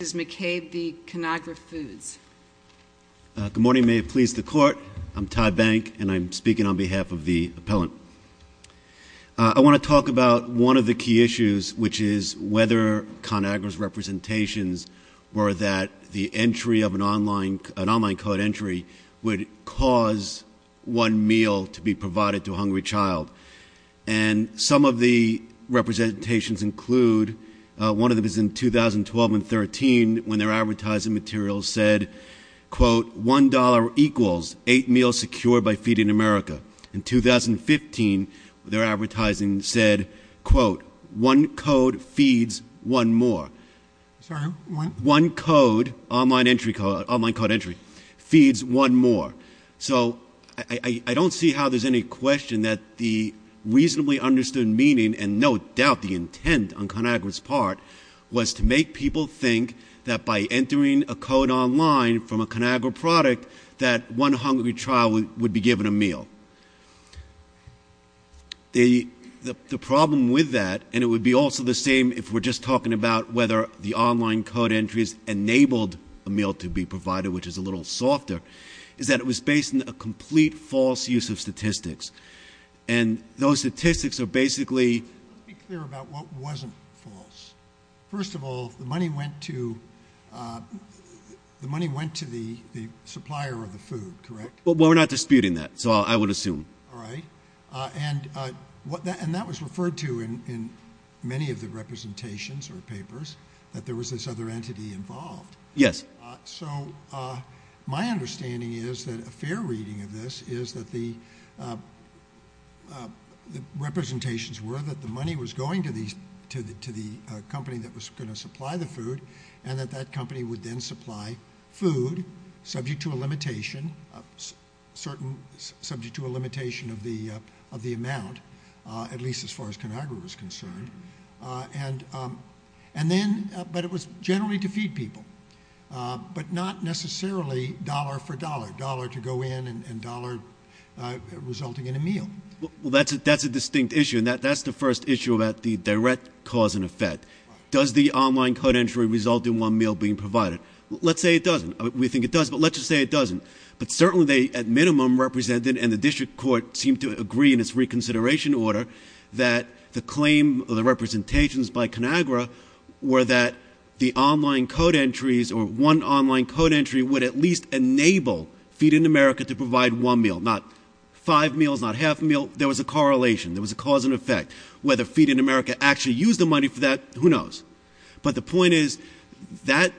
Good morning. May it please the Court. I'm Todd Bank, and I'm speaking on behalf of the appellant. I want to talk about one of the key issues, which is whether Conagra's representations were that the entry of an online code entry would cause one meal to be provided to a hungry child. And some of the representations include one of them is in 2012 and 2013, when their advertising materials said, quote, One dollar equals eight meals secured by Feeding America. In 2015, their advertising said, quote, One code feeds one more. One code, online code entry, feeds one more. So I don't see how there's any question that the reasonably understood meaning, and no doubt the intent on Conagra's part, was to make people think that by entering a code online from a Conagra product, that one hungry child would be given a meal. The problem with that, and it would be also the same if we're just talking about whether the online code entries enabled a meal to be provided, which is a little softer, is that it was based on a complete false use of statistics. And those statistics are basically... Let's be clear about what wasn't false. First of all, the money went to the supplier of the food, correct? Well, we're not disputing that, so I would assume. All right. And that was referred to in many of the representations or papers, that there was this other entity involved. Yes. So my understanding is that a fair reading of this is that the representations were that the money was going to the company that was going to supply the food, and that that company would then supply food, subject to a limitation, subject to a limitation of the amount, at least as far as Conagra was concerned. And then, but it was generally to feed people. But not necessarily dollar for dollar, dollar to go in and dollar resulting in a meal. Well, that's a distinct issue, and that's the first issue about the direct cause and effect. Does the online code entry result in one meal being provided? Let's say it doesn't. We think it does, but let's just say it doesn't. But certainly they, at minimum, represented, and the district court seemed to agree in its reconsideration order, that the claim of the representations by Conagra were that the online code entries or one online code entry would at least enable Feed in America to provide one meal, not five meals, not half a meal. There was a correlation. There was a cause and effect. Whether Feed in America actually used the money for that, who knows. But the point is, that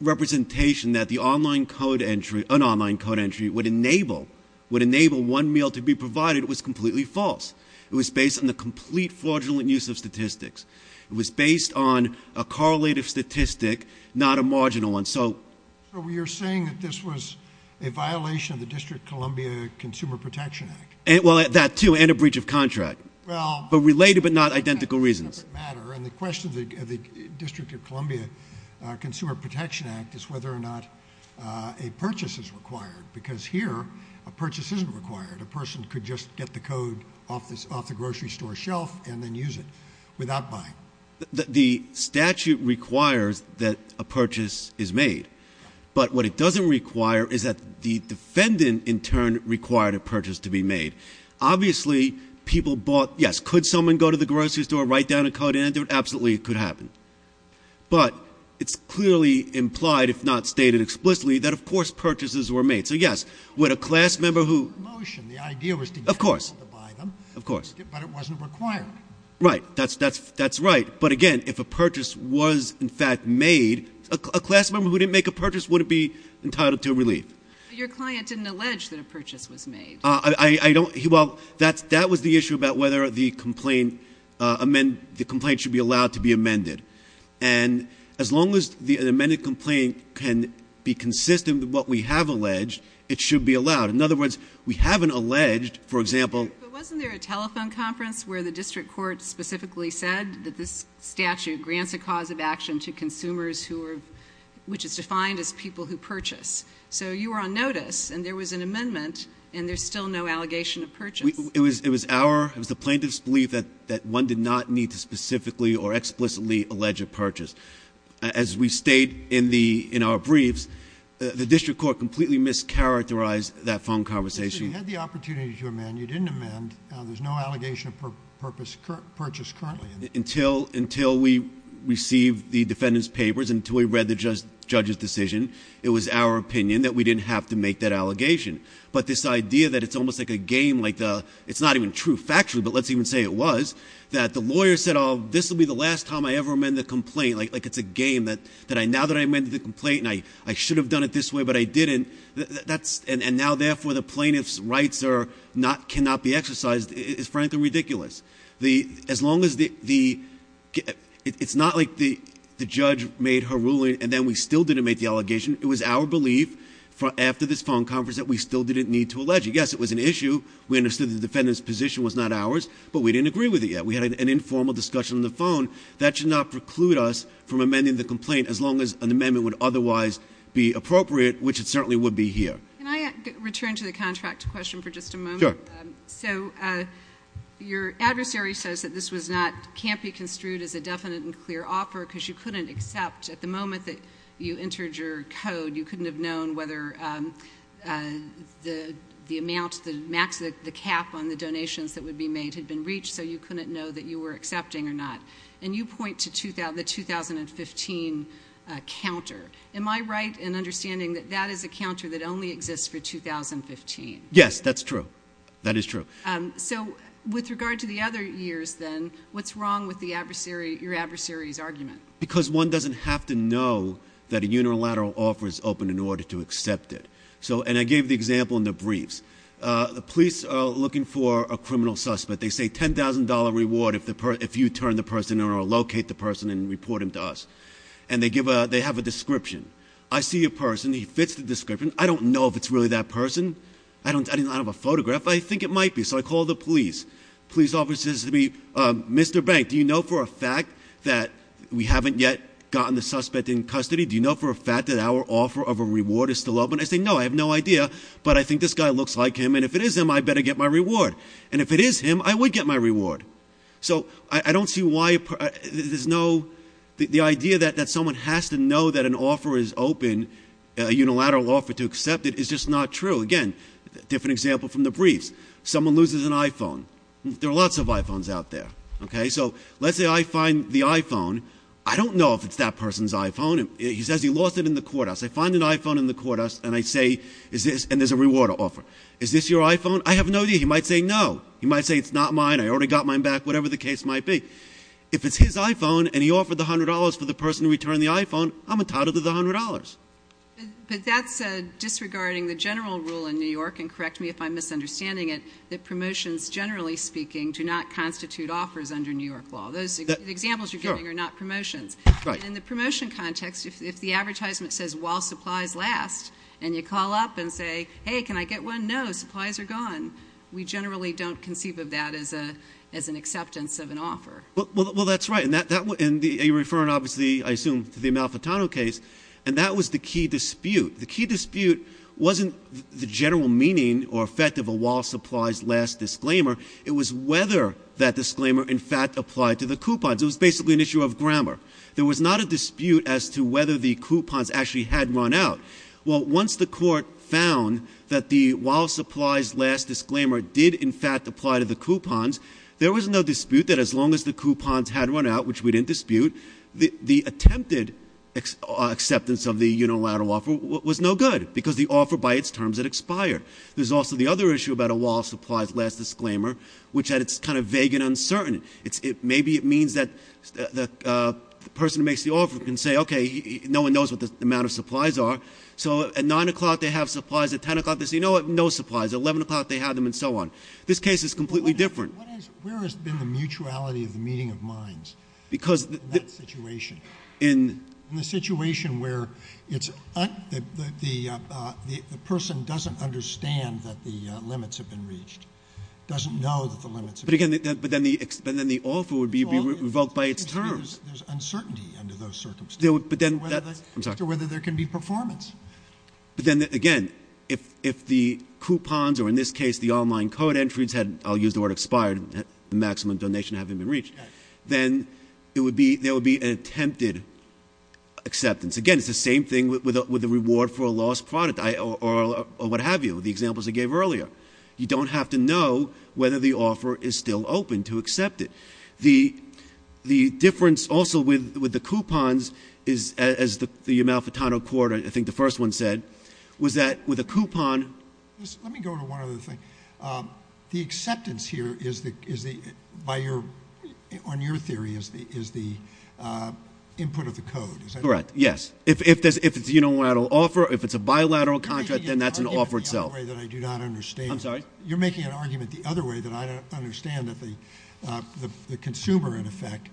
representation that the online code entry, an online code entry would enable, would enable one meal to be provided was completely false. It was based on the complete fraudulent use of statistics. It was based on a correlative statistic, not a marginal one. So you're saying that this was a violation of the District of Columbia Consumer Protection Act? Well, that too, and a breach of contract, but related but not identical reasons. Well, that's a separate matter, and the question of the District of Columbia Consumer Protection Act is whether or not a purchase is required, because here, a purchase isn't required. A person could just get the code off the grocery store shelf and then use it without buying. The statute requires that a purchase is made, but what it doesn't require is that the defendant, in turn, required a purchase to be made. Obviously, people bought, yes, could someone go to the grocery store, write down a code entry? Absolutely, it could happen. But it's clearly implied, if not stated explicitly, that of course purchases were made. So yes, would a class member who- The idea was to get people to buy them, but it wasn't required. Right, that's right. But again, if a purchase was in fact made, a class member who didn't make a purchase wouldn't be entitled to a relief. But your client didn't allege that a purchase was made. That was the issue about whether the complaint should be allowed to be amended. And as long as an amended complaint can be consistent with what we have alleged, it should be allowed. In other words, we haven't alleged, for example- But wasn't there a telephone conference where the district court specifically said that this statute grants a cause of action to consumers which is defined as people who purchase? So you were on notice and there was an amendment and there's still no allegation of purchase. It was the plaintiff's belief that one did not need to specifically or explicitly allege a purchase. As we state in our briefs, the district court completely mischaracterized that phone conversation. You had the opportunity to amend. You didn't amend. There's no allegation of purchase currently. Until we received the defendant's papers, until we read the judge's decision, it was our opinion that we didn't have to make that allegation. But this idea that it's almost like a game, it's not even true factually, but let's even say it was, that the lawyer said, this will be the last time I ever amend the complaint, like it's a game, that now that I amended the complaint and I should have done it this way but I didn't, and now therefore the plaintiff's rights cannot be exercised is frankly ridiculous. As long as the, it's not like the judge made her ruling and then we still didn't make the allegation. It was our belief after this phone conference that we still didn't need to allege. Yes, it was an issue. We understood the defendant's position was not ours, but we didn't agree with it yet. We had an informal discussion on the phone. That should not preclude us from amending the complaint as long as an amendment would otherwise be appropriate, which it certainly would be here. Can I return to the contract question for just a moment? Sure. So your adversary says that this was not, can't be construed as a definite and clear offer because you couldn't accept at the moment that you entered your code, you couldn't have known whether the amount, the max, the cap on the donations that would be made had been reached, so you couldn't know that you were accepting or not. And you point to the 2015 counter. Am I right in understanding that that is a counter that only exists for 2015? Yes, that's true. That is true. So with regard to the other years then, what's wrong with your adversary's argument? Because one doesn't have to know that a unilateral offer is open in order to accept it. And I gave the example in the briefs. The police are looking for a criminal suspect. They say $10,000 reward if you turn the person in or locate the person and report him to us. And they have a description. I see a person. He fits the description. I don't know if it's really that person. I don't have a photograph, but I think it might be. So I call the police. Police officer says to me, Mr. Bank, do you know for a fact that we haven't yet gotten the suspect in custody? Do you know for a fact that our offer of a reward is still open? I say, no, I have no idea, but I think this guy looks like him, and if it is him, I better get my reward. And if it is him, I would get my reward. The idea that someone has to know that an offer is open, a unilateral offer to accept it, is just not true. Again, different example from the briefs. Someone loses an iPhone. There are lots of iPhones out there. So let's say I find the iPhone. I don't know if it's that person's iPhone. He says he lost it in the courthouse. I find an iPhone in the courthouse, and there's a reward offer. Is this your iPhone? I have no idea. He might say no. He might say it's not mine. I already got mine back, whatever the case might be. If it's his iPhone and he offered the $100 for the person to return the iPhone, I'm entitled to the $100. But that's disregarding the general rule in New York, and correct me if I'm misunderstanding it, that promotions, generally speaking, do not constitute offers under New York law. The examples you're giving are not promotions. In the promotion context, if the advertisement says, while supplies last, and you call up and say, hey, can I get one? No, supplies are gone. We generally don't conceive of that as an acceptance of an offer. Well, that's right. And you're referring, obviously, I assume, to the Amalfitano case, and that was the key dispute. The key dispute wasn't the general meaning or effect of a while supplies last disclaimer. It was whether that disclaimer, in fact, applied to the coupons. It was basically an issue of grammar. There was not a dispute as to whether the coupons actually had run out. Well, once the Court found that the while supplies last disclaimer did, in fact, apply to the coupons, there was no dispute that as long as the coupons had run out, which we didn't dispute, the attempted acceptance of the unilateral offer was no good because the offer by its terms had expired. There's also the other issue about a while supplies last disclaimer, which is that it's kind of vague and uncertain. Maybe it means that the person who makes the offer can say, okay, no one knows what the amount of supplies are, so at 9 o'clock they have supplies, at 10 o'clock they say, you know what, no supplies. At 11 o'clock they have them, and so on. This case is completely different. But where has been the mutuality of the meeting of minds in that situation? In the situation where the person doesn't understand that the limits have been reached, doesn't know that the limits have been reached. But then the offer would be revoked by its terms. There's uncertainty under those circumstances as to whether there can be performance. But then again, if the coupons, or in this case the online code entries had, I'll use the word expired, the maximum donation hadn't been reached, then there would be an attempted acceptance. Again, it's the same thing with the reward for a lost product, or what have you, the examples I gave earlier. You don't have to know whether the offer is still open to accept it. The difference also with the coupons is, as the Amalfitano court, I think the first one said, was that with a coupon- Let me go to one other thing. The acceptance here, on your theory, is the input of the code, is that correct? Correct, yes. If it's a unilateral offer, if it's a bilateral contract, then that's an offer itself. You're making an argument the other way that I do not understand. I'm sorry? You're making an argument the other way that I don't understand that the consumer, in effect,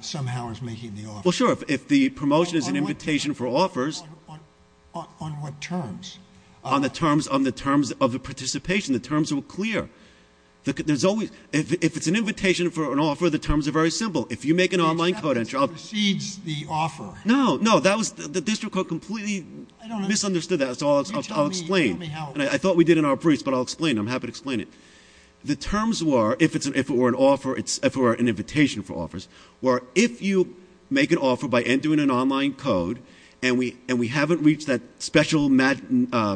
somehow is making the offer. Well, sure, if the promotion is an invitation for offers- On what terms? On the terms of the participation, the terms are clear. If it's an invitation for an offer, the terms are very simple. If you make an online code- The acceptance precedes the offer. No, no, the district court completely misunderstood that, so I'll explain. You tell me how- I thought we did in our briefs, but I'll explain, I'm happy to explain it. The terms were, if it were an offer, if it were an invitation for offers, were if you make an offer by entering an online code, and we haven't reached that special maximum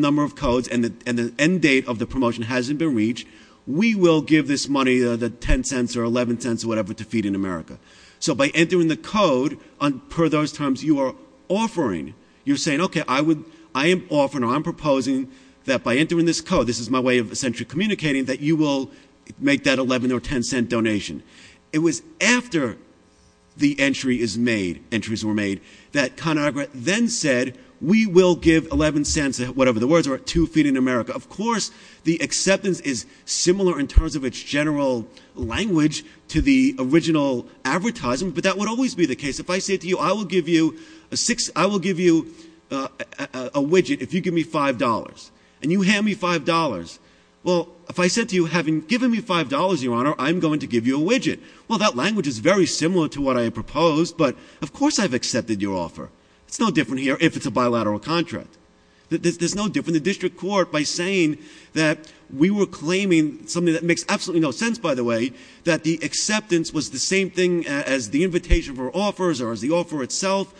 number of codes, and the end date of the promotion hasn't been reached, we will give this money, the $0.10 or $0.11 or whatever, to Feed in America. So by entering the code, per those terms, you are offering. You're saying, okay, I am offering or I'm proposing that by entering this code, this is my way of essentially communicating, that you will make that $0.11 or $0.10 donation. It was after the entry is made, entries were made, that ConAgra then said, we will give $0.11, whatever the words are, to Feed in America. Of course, the acceptance is similar in terms of its general language to the original advertisement, but that would always be the case. If I said to you, I will give you a widget if you give me $5, and you hand me $5. Well, if I said to you, having given me $5, Your Honor, I'm going to give you a widget. Well, that language is very similar to what I proposed, but of course I've accepted your offer. It's no different here if it's a bilateral contract. There's no difference. The district court, by saying that we were claiming something that makes absolutely no sense, by the way, that the acceptance was the same thing as the invitation for offers or as the offer itself,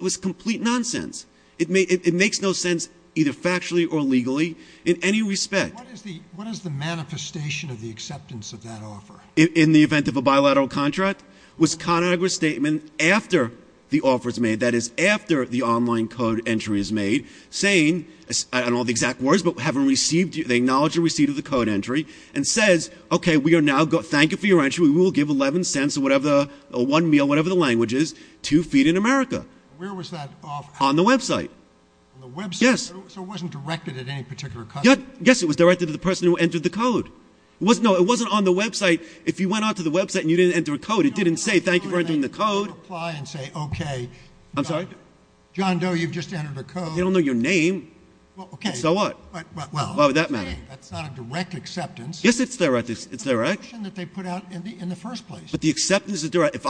was complete nonsense. It makes no sense either factually or legally in any respect. What is the manifestation of the acceptance of that offer? In the event of a bilateral contract was ConAgra's statement after the offer is made, that is after the online code entry is made, saying, I don't know the exact words, but they acknowledge the receipt of the code entry and says, okay, we are now going to thank you for your entry. We will give $0.11 or one meal, whatever the language is, to Feed in America. Where was that offer? On the website. On the website? Yes. So it wasn't directed at any particular customer? Yes, it was directed to the person who entered the code. No, it wasn't on the website. If you went onto the website and you didn't enter a code, it didn't say thank you for entering the code. I'm sorry? John Doe, you've just entered a code. They don't know your name. So what? Why would that matter? That's not a direct acceptance. Yes, it's direct. It's a direction that they put out in the first place. But the acceptance is direct. If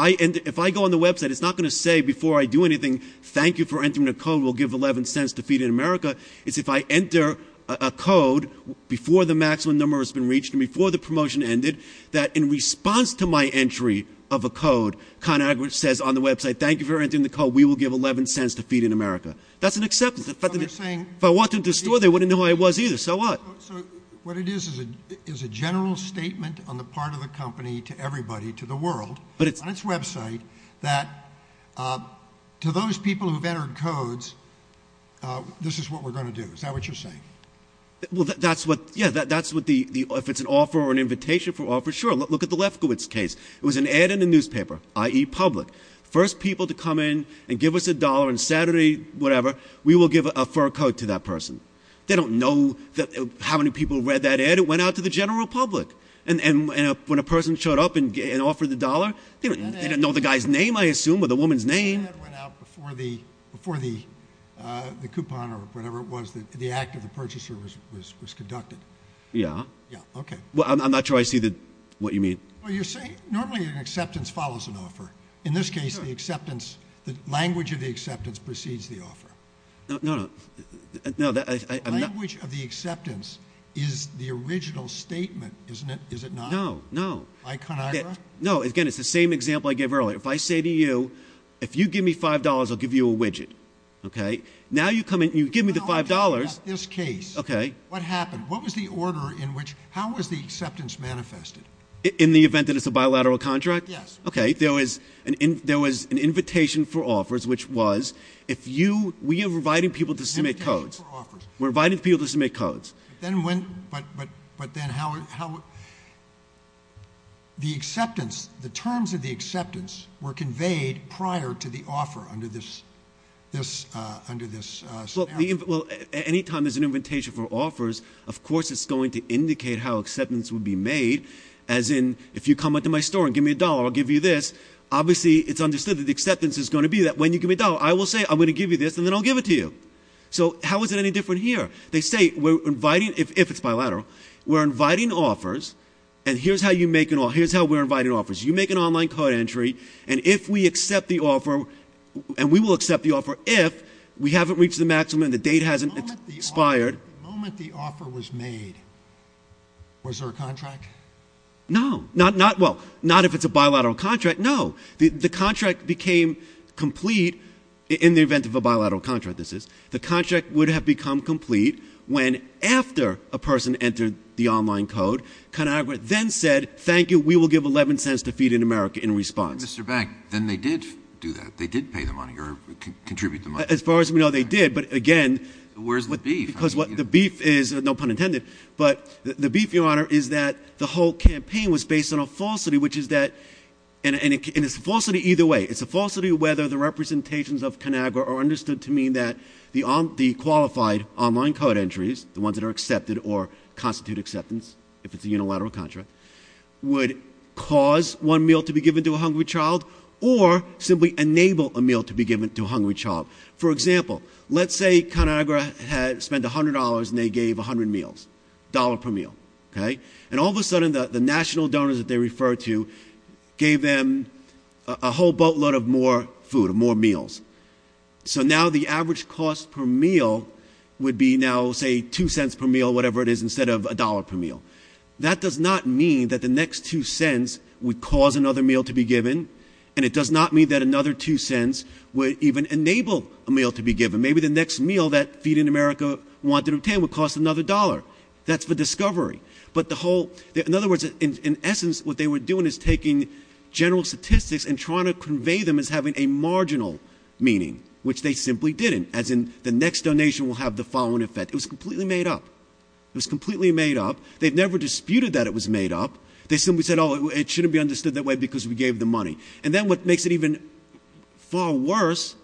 I go on the website, it's not going to say before I do anything, thank you for entering the code. We'll give $0.11 to Feed in America. It's if I enter a code before the maximum number has been reached and before the promotion ended, that in response to my entry of a code, ConAgra says on the website, thank you for entering the code. We will give $0.11 to Feed in America. That's an acceptance. If I walked into the store, they wouldn't know who I was either. So what? So what it is is a general statement on the part of the company to everybody, to the world, on its website, that to those people who have entered codes, this is what we're going to do. Is that what you're saying? Well, that's what the ‑‑ if it's an offer or an invitation for an offer, sure. Look at the Lefkowitz case. It was an ad in the newspaper, i.e., public. First people to come in and give us a dollar on Saturday, whatever, we will give a fur coat to that person. They don't know how many people read that ad. It went out to the general public. And when a person showed up and offered the dollar, they didn't know the guy's name, I assume, or the woman's name. That ad went out before the coupon or whatever it was, the act of the purchaser was conducted. Yeah. Yeah, okay. I'm not sure I see what you mean. Well, you're saying normally an acceptance follows an offer. Sure. In this case, the acceptance, the language of the acceptance precedes the offer. No, no, no. The language of the acceptance is the original statement, isn't it? Is it not? No, no. Iconogra? No, again, it's the same example I gave earlier. If I say to you, if you give me $5, I'll give you a widget, okay? Now you come in and you give me the $5. No, no, no. In this case. Okay. What happened? What was the order in which ‑‑ how was the acceptance manifested? In the event that it's a bilateral contract? Yes. Okay. There was an invitation for offers, which was if you ‑‑ we are inviting people to submit codes. Invitation for offers. We're inviting people to submit codes. But then when ‑‑ but then how ‑‑ the acceptance, the terms of the acceptance were conveyed prior to the offer under this scenario. Well, any time there's an invitation for offers, of course it's going to indicate how acceptance would be made. As in, if you come into my store and give me a dollar, I'll give you this. Obviously, it's understood that the acceptance is going to be that when you give me a dollar, I will say, I'm going to give you this, and then I'll give it to you. So, how is it any different here? They say, we're inviting ‑‑ if it's bilateral. We're inviting offers, and here's how you make an ‑‑ here's how we're inviting offers. You make an online code entry, and if we accept the offer, and we will accept the offer if we haven't reached the maximum and the date hasn't expired. The moment the offer was made, was there a contract? No. Not ‑‑ well, not if it's a bilateral contract. No. The contract became complete in the event of a bilateral contract, this is. The contract would have become complete when, after a person entered the online code, ConAgra then said, thank you, we will give 11 cents to Feed in America in response. Mr. Beck, then they did do that. They did pay the money, or contribute the money. As far as we know, they did. But, again ‑‑ Where's the beef? Because the beef is, no pun intended, but the beef, Your Honor, is that the whole campaign was based on a falsity, which is that, and it's a falsity either way. It's a falsity whether the representations of ConAgra are understood to mean that the qualified online code entries, the ones that are accepted or constitute acceptance, if it's a unilateral contract, would cause one meal to be given to a hungry child, or simply enable a meal to be given to a hungry child. For example, let's say ConAgra spent $100 and they gave 100 meals, dollar per meal. Okay? And all of a sudden, the national donors that they referred to gave them a whole boatload of more food, more meals. So now the average cost per meal would be now, say, two cents per meal, whatever it is, instead of a dollar per meal. That does not mean that the next two cents would cause another meal to be given, and it does not mean that another two cents would even enable a meal to be given. Maybe the next meal that Feed in America wanted to obtain would cost another dollar. That's for discovery. But the whole, in other words, in essence, what they were doing is taking general statistics and trying to convey them as having a marginal meaning, which they simply didn't, as in, the next donation will have the following effect. It was completely made up. It was completely made up. They've never disputed that it was made up. They simply said, oh, it shouldn't be understood that way because we gave them money. And then what makes it even far worse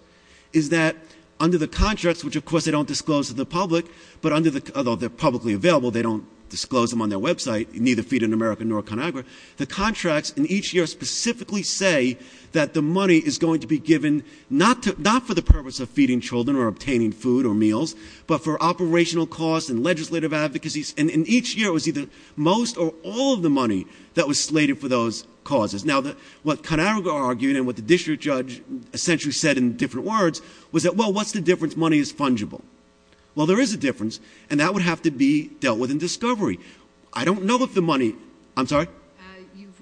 is that under the contracts, which, of course, they don't disclose to the public, but under the, although they're publicly available, they don't disclose them on their website, neither Feed in America nor ConAgra, the contracts in each year specifically say that the money is going to be given not for the purpose of feeding children or obtaining food or meals, but for operational costs and legislative advocacies, and in each year it was either most or all of the money that was slated for those causes. Now, what ConAgra argued and what the district judge essentially said in different words was that, well, what's the difference? Money is fungible. Well, there is a difference, and that would have to be dealt with in discovery. I don't know if the money – I'm sorry?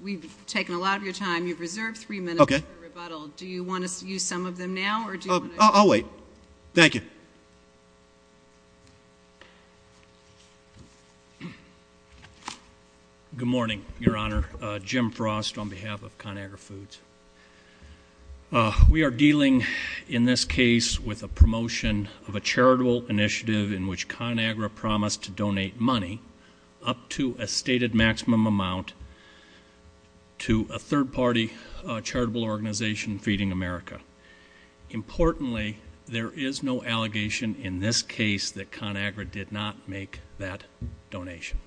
We've taken a lot of your time. You've reserved three minutes for rebuttal. Do you want to use some of them now or do you want to – I'll wait. Thank you. Good morning, Your Honor. Jim Frost on behalf of ConAgra Foods. We are dealing in this case with a promotion of a charitable initiative in which ConAgra promised to donate money up to a stated maximum amount to a third-party charitable organization, Feeding America. Importantly, there is no allegation in this case that ConAgra did not make that donation.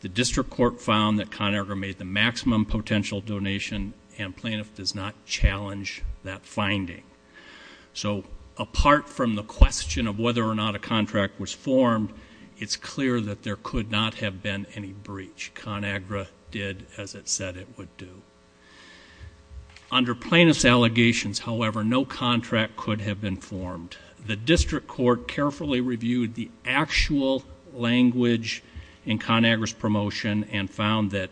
The district court found that ConAgra made the maximum potential donation, and plaintiff does not challenge that finding. So apart from the question of whether or not a contract was formed, it's clear that there could not have been any breach. ConAgra did as it said it would do. Under plaintiff's allegations, however, no contract could have been formed. The district court carefully reviewed the actual language in ConAgra's promotion and found that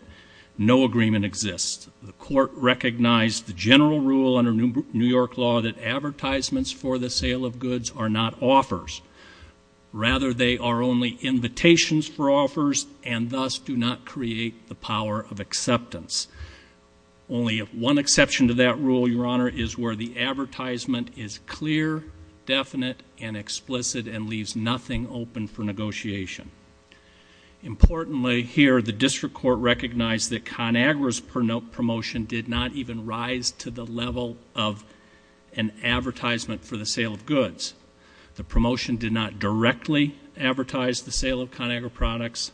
no agreement exists. The court recognized the general rule under New York law that advertisements for the sale of goods are not offers. Rather, they are only invitations for offers and thus do not create the power of acceptance. Only one exception to that rule, Your Honor, is where the advertisement is clear, definite, and explicit and leaves nothing open for negotiation. Importantly here, the district court recognized that ConAgra's promotion did not even rise to the level of an advertisement for the sale of goods. The promotion did not directly advertise the sale of ConAgra products.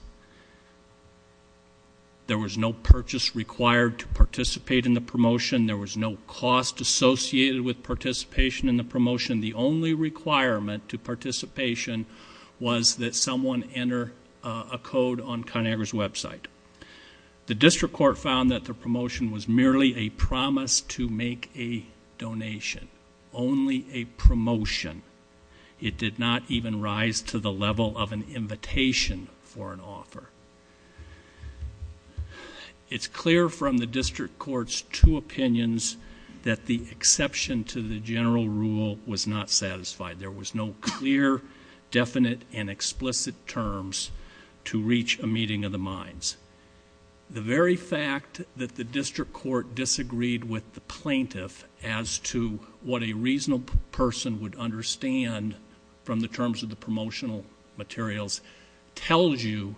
There was no purchase required to participate in the promotion. There was no cost associated with participation in the promotion. The only requirement to participation was that someone enter a code on ConAgra's website. The district court found that the promotion was merely a promise to make a donation, only a promotion. It did not even rise to the level of an invitation for an offer. It's clear from the district court's two opinions that the exception to the general rule was not satisfied. There was no clear, definite, and explicit terms to reach a meeting of the minds. The very fact that the district court disagreed with the plaintiff as to what a reasonable person would understand from the terms of the promotional materials tells you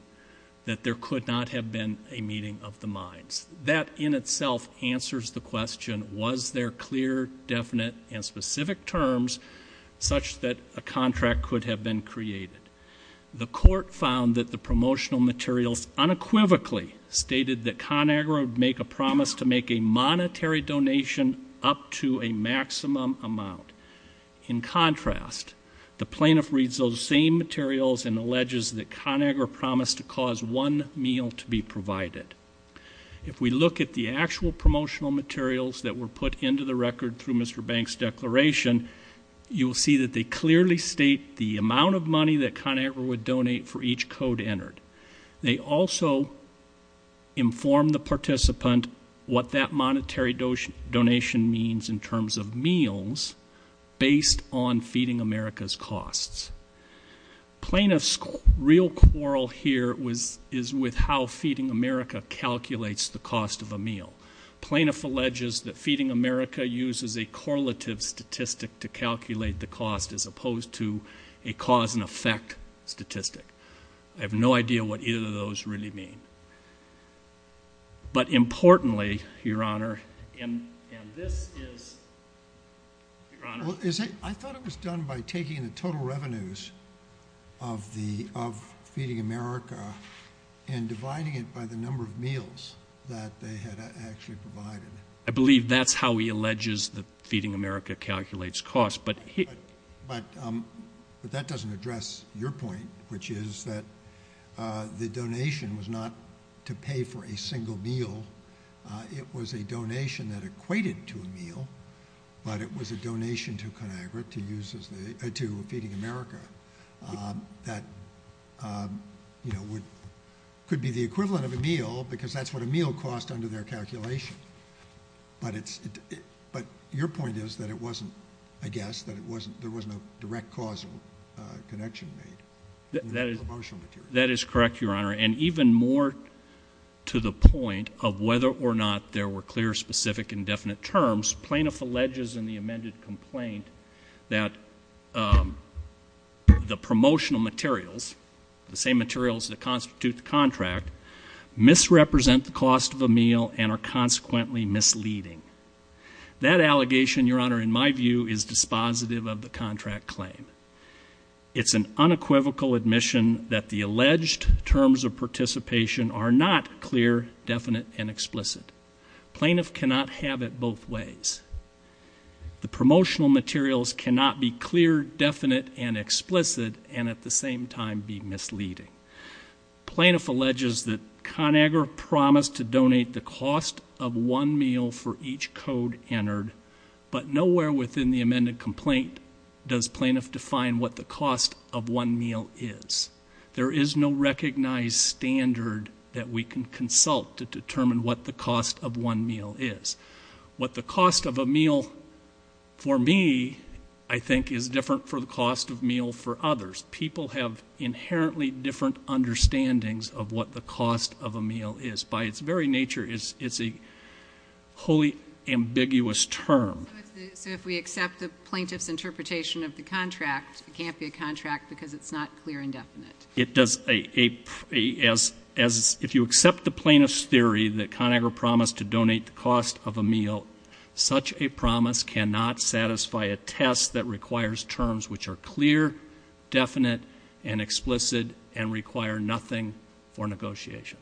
that there could not have been a meeting of the minds. That in itself answers the question, was there clear, definite, and specific terms such that a contract could have been created? The court found that the promotional materials unequivocally stated that ConAgra would make a promise to make a monetary donation up to a maximum amount. In contrast, the plaintiff reads those same materials and alleges that ConAgra promised to cause one meal to be provided. If we look at the actual promotional materials that were put into the record through Mr. Banks' declaration, you will see that they clearly state the amount of money that ConAgra would donate for each code entered. They also inform the participant what that monetary donation means in terms of meals based on Feeding America's costs. Plaintiff's real quarrel here is with how Feeding America calculates the cost of a meal. Plaintiff alleges that Feeding America uses a correlative statistic to calculate the cost as opposed to a cause and effect statistic. I have no idea what either of those really mean. But importantly, Your Honor, and this is, Your Honor. I thought it was done by taking the total revenues of Feeding America and dividing it by the number of meals that they had actually provided. I believe that's how he alleges that Feeding America calculates costs. But that doesn't address your point, which is that the donation was not to pay for a single meal. It was a donation that equated to a meal, but it was a donation to Feeding America that could be the equivalent of a meal because that's what a meal cost under their calculation. But your point is that it wasn't, I guess, that there wasn't a direct causal connection made. That is correct, Your Honor. And even more to the point of whether or not there were clear, specific, indefinite terms, plaintiff alleges in the amended complaint that the promotional materials, the same materials that constitute the contract, misrepresent the cost of a meal and are consequently misleading. That allegation, Your Honor, in my view, is dispositive of the contract claim. It's an unequivocal admission that the alleged terms of participation are not clear, definite, and explicit. Plaintiff cannot have it both ways. The promotional materials cannot be clear, definite, and explicit, and at the same time be misleading. Plaintiff alleges that ConAgra promised to donate the cost of one meal for each code entered, but nowhere within the amended complaint does plaintiff define what the cost of one meal is. There is no recognized standard that we can consult to determine what the cost of one meal is. What the cost of a meal for me, I think, is different for the cost of a meal for others. People have inherently different understandings of what the cost of a meal is. By its very nature, it's a wholly ambiguous term. So if we accept the plaintiff's interpretation of the contract, it can't be a contract because it's not clear and definite? It does. If you accept the plaintiff's theory that ConAgra promised to donate the cost of a meal, such a promise cannot satisfy a test that requires terms which are clear, definite, and explicit, and require nothing for negotiation.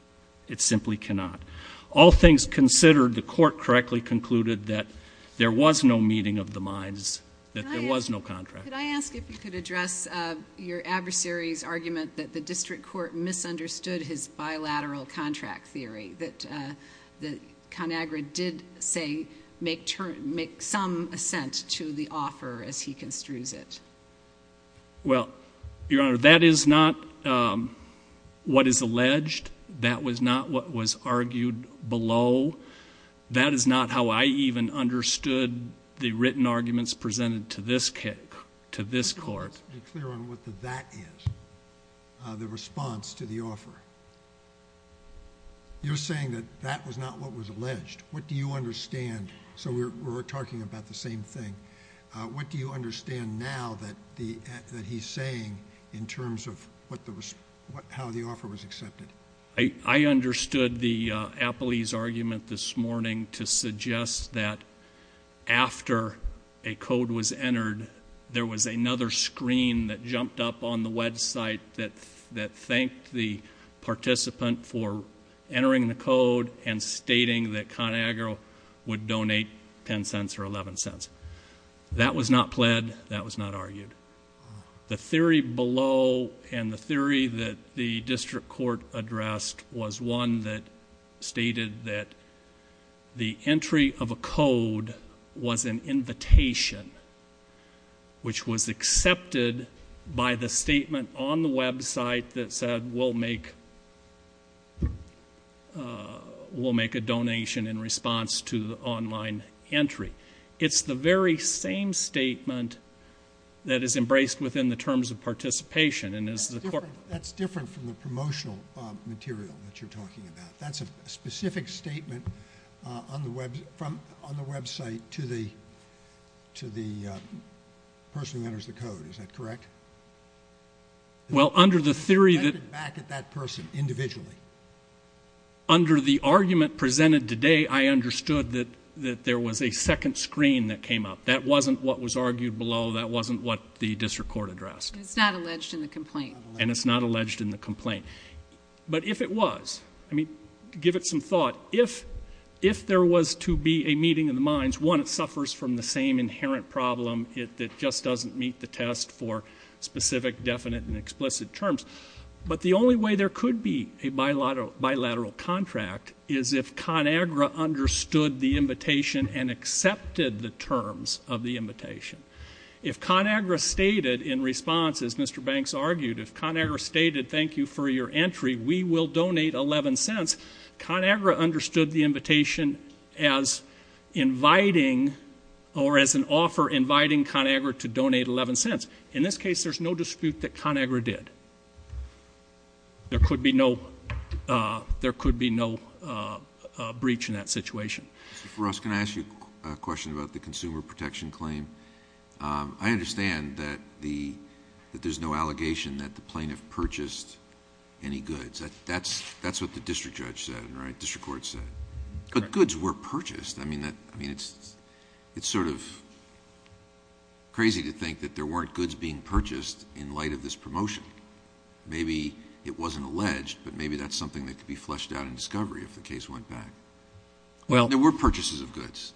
It simply cannot. All things considered, the court correctly concluded that there was no meeting of the minds, that there was no contract. Could I ask if you could address your adversary's argument that the district court misunderstood his bilateral contract theory, that ConAgra did, say, make some assent to the offer as he construes it? Well, Your Honor, that is not what is alleged. That was not what was argued below. That is not how I even understood the written arguments presented to this court. Let's be clear on what the that is, the response to the offer. You're saying that that was not what was alleged. What do you understand? So we're talking about the same thing. What do you understand now that he's saying in terms of how the offer was accepted? I understood the Appley's argument this morning to suggest that after a code was entered, there was another screen that jumped up on the website that thanked the participant for entering the code and stating that ConAgra would donate $0.10 or $0.11. That was not pled. That was not argued. The theory below and the theory that the district court addressed was one that stated that the entry of a code was an invitation, which was accepted by the statement on the website that said, we'll make a donation in response to the online entry. It's the very same statement that is embraced within the terms of participation and is the court. That's different from the promotional material that you're talking about. That's a specific statement on the website to the person who enters the code. Is that correct? Well, under the theory that. Back at that person individually. Under the argument presented today, I understood that there was a second screen that came up. That wasn't what was argued below. That wasn't what the district court addressed. It's not alleged in the complaint. And it's not alleged in the complaint. But if it was, I mean, give it some thought. If there was to be a meeting of the minds, one, it suffers from the same inherent problem. It just doesn't meet the test for specific, definite, and explicit terms. But the only way there could be a bilateral contract is if ConAgra understood the invitation and accepted the terms of the invitation. If ConAgra stated in response, as Mr. Banks argued, if ConAgra stated thank you for your entry, we will donate $0.11, ConAgra understood the invitation as an offer inviting ConAgra to donate $0.11. It doesn't make sense. In this case, there's no dispute that ConAgra did. There could be no breach in that situation. Mr. Foros, can I ask you a question about the consumer protection claim? I understand that there's no allegation that the plaintiff purchased any goods. That's what the district judge said, right, district court said. But goods were purchased. I mean, it's sort of crazy to think that there weren't goods being purchased in light of this promotion. Maybe it wasn't alleged, but maybe that's something that could be fleshed out in discovery if the case went back. There were purchases of goods,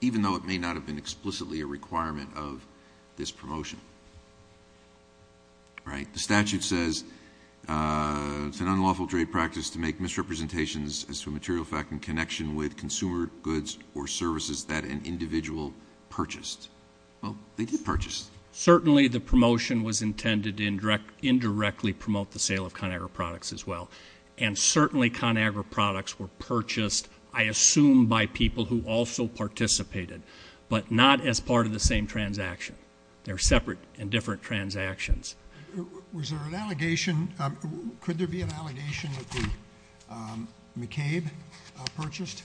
even though it may not have been explicitly a requirement of this promotion. The statute says it's an unlawful trade practice to make misrepresentations as to a material fact in connection with consumer goods or services that an individual purchased. Well, they did purchase. Certainly the promotion was intended to indirectly promote the sale of ConAgra products as well, and certainly ConAgra products were purchased, I assume, by people who also participated, but not as part of the same transaction. They're separate and different transactions. Was there an allegation? Could there be an allegation that McCabe purchased?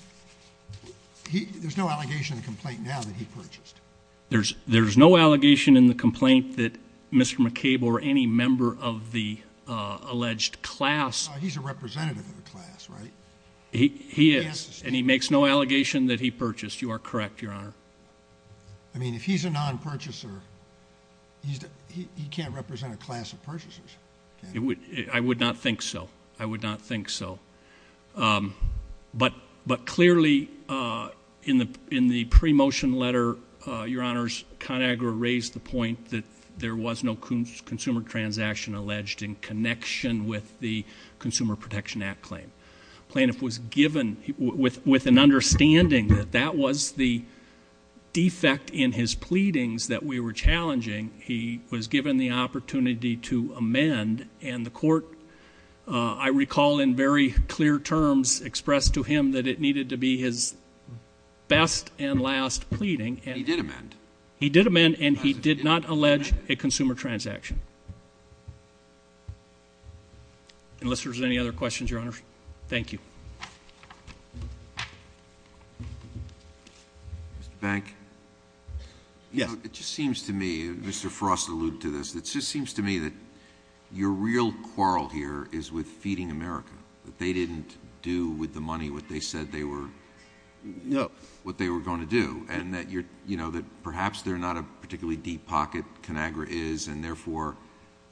There's no allegation in the complaint now that he purchased. There's no allegation in the complaint that Mr. McCabe or any member of the alleged class. He's a representative of the class, right? He is, and he makes no allegation that he purchased. You are correct, Your Honor. I mean, if he's a non-purchaser, he can't represent a class of purchasers, can he? I would not think so. I would not think so. But clearly in the pre-motion letter, Your Honors, ConAgra raised the point that there was no consumer transaction alleged in connection with the Consumer Protection Act claim. The plaintiff was given, with an understanding that that was the defect in his pleadings that we were challenging, he was given the opportunity to amend, and the court, I recall in very clear terms, expressed to him that it needed to be his best and last pleading. He did amend. He did amend, and he did not allege a consumer transaction. Unless there's any other questions, Your Honors. Thank you. Mr. Bank? Yes. It just seems to me, Mr. Frost alluded to this, it just seems to me that your real quarrel here is with Feeding America, that they didn't do with the money what they said they were going to do, and that perhaps they're not a particularly deep pocket, ConAgra is, and therefore,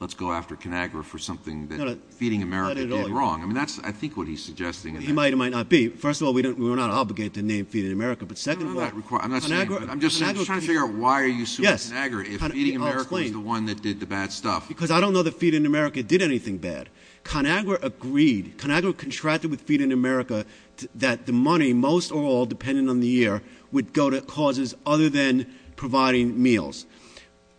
let's go after ConAgra for something that Feeding America did wrong. I mean, that's, I think, what he's suggesting. He might or might not be. First of all, we're not obligated to name Feeding America, but second of all, ConAgra I'm just trying to figure out why are you suing ConAgra if Feeding America was the one that did the bad stuff. Because I don't know that Feeding America did anything bad. ConAgra agreed. ConAgra contracted with Feeding America that the money, most or all, depending on the year, would go to causes other than providing meals.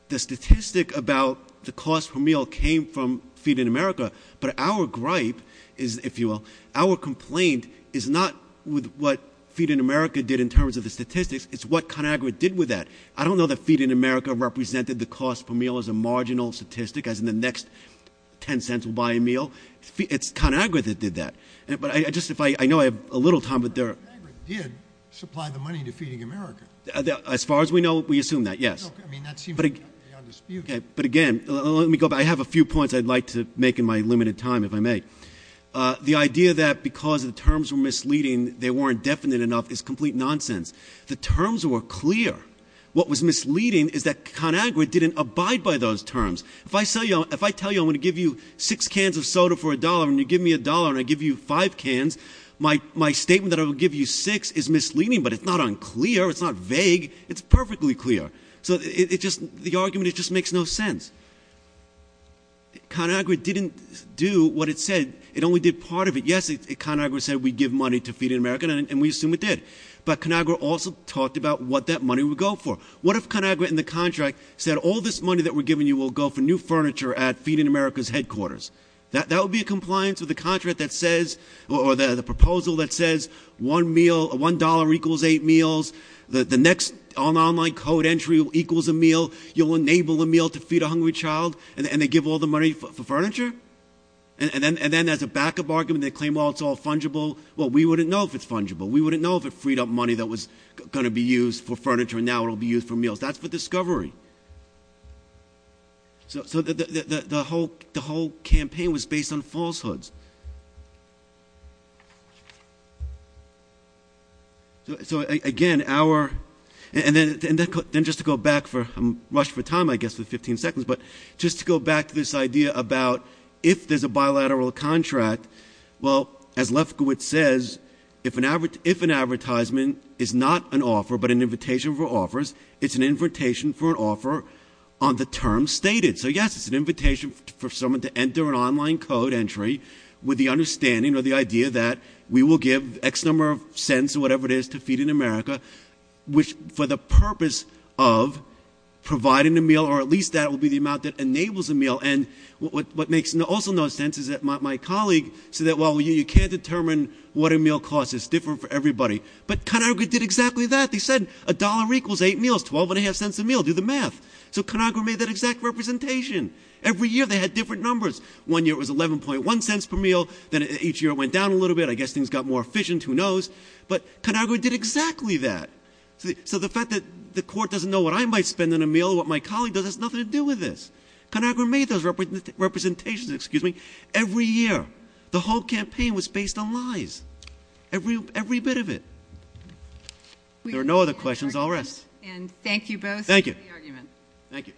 The statistic about the cost per meal came from Feeding America, but our gripe is, if you will, our complaint is not with what Feeding America did in terms of the statistics, it's what ConAgra did with that. I don't know that Feeding America represented the cost per meal as a marginal statistic, as in the next ten cents we'll buy a meal. It's ConAgra that did that. But I just, if I, I know I have a little time, but there are. ConAgra did supply the money to Feeding America. As far as we know, we assume that, yes. I mean, that seems beyond dispute. But again, let me go back. I have a few points I'd like to make in my limited time, if I may. The idea that because the terms were misleading, they weren't definite enough is complete nonsense. The terms were clear. What was misleading is that ConAgra didn't abide by those terms. If I tell you I'm going to give you six cans of soda for a dollar, and you give me a dollar, and I give you five cans. My statement that I will give you six is misleading, but it's not unclear. It's not vague. It's perfectly clear. So the argument, it just makes no sense. ConAgra didn't do what it said. It only did part of it. Yes, ConAgra said we give money to Feeding America, and we assume it did. But ConAgra also talked about what that money would go for. What if ConAgra in the contract said all this money that we're giving you will go for new furniture at Feeding America's headquarters? That would be a compliance with the contract that says, or the proposal that says one meal, $1 equals eight meals, the next online code entry equals a meal. You'll enable a meal to feed a hungry child, and they give all the money for furniture? And then as a backup argument, they claim, well, it's all fungible. Well, we wouldn't know if it's fungible. We wouldn't know if it freed up money that was going to be used for furniture, and now it'll be used for meals. That's for discovery. So the whole campaign was based on falsehoods. So, again, our, and then just to go back for, I'm rushed for time, I guess, for 15 seconds, but just to go back to this idea about if there's a bilateral contract, well, as Lefkowitz says, if an advertisement is not an offer but an invitation for offers, it's an invitation for an offer on the terms stated. So, yes, it's an invitation for someone to enter an online code entry with the understanding or the idea that we will give X number of cents or whatever it is to Feeding America, which for the purpose of providing a meal, or at least that will be the amount that enables a meal. And what makes also no sense is that my colleague said that, well, you can't determine what a meal costs. It's different for everybody. But ConAgra did exactly that. They said a dollar equals eight meals, 12.5 cents a meal. Do the math. So ConAgra made that exact representation. Every year they had different numbers. One year it was 11.1 cents per meal. Then each year it went down a little bit. I guess things got more efficient. Who knows? But ConAgra did exactly that. So the fact that the court doesn't know what I might spend on a meal or what my colleague does has nothing to do with this. ConAgra made those representations every year. The whole campaign was based on lies, every bit of it. If there are no other questions, I'll rest. And thank you both for the argument. Thank you. Thank you.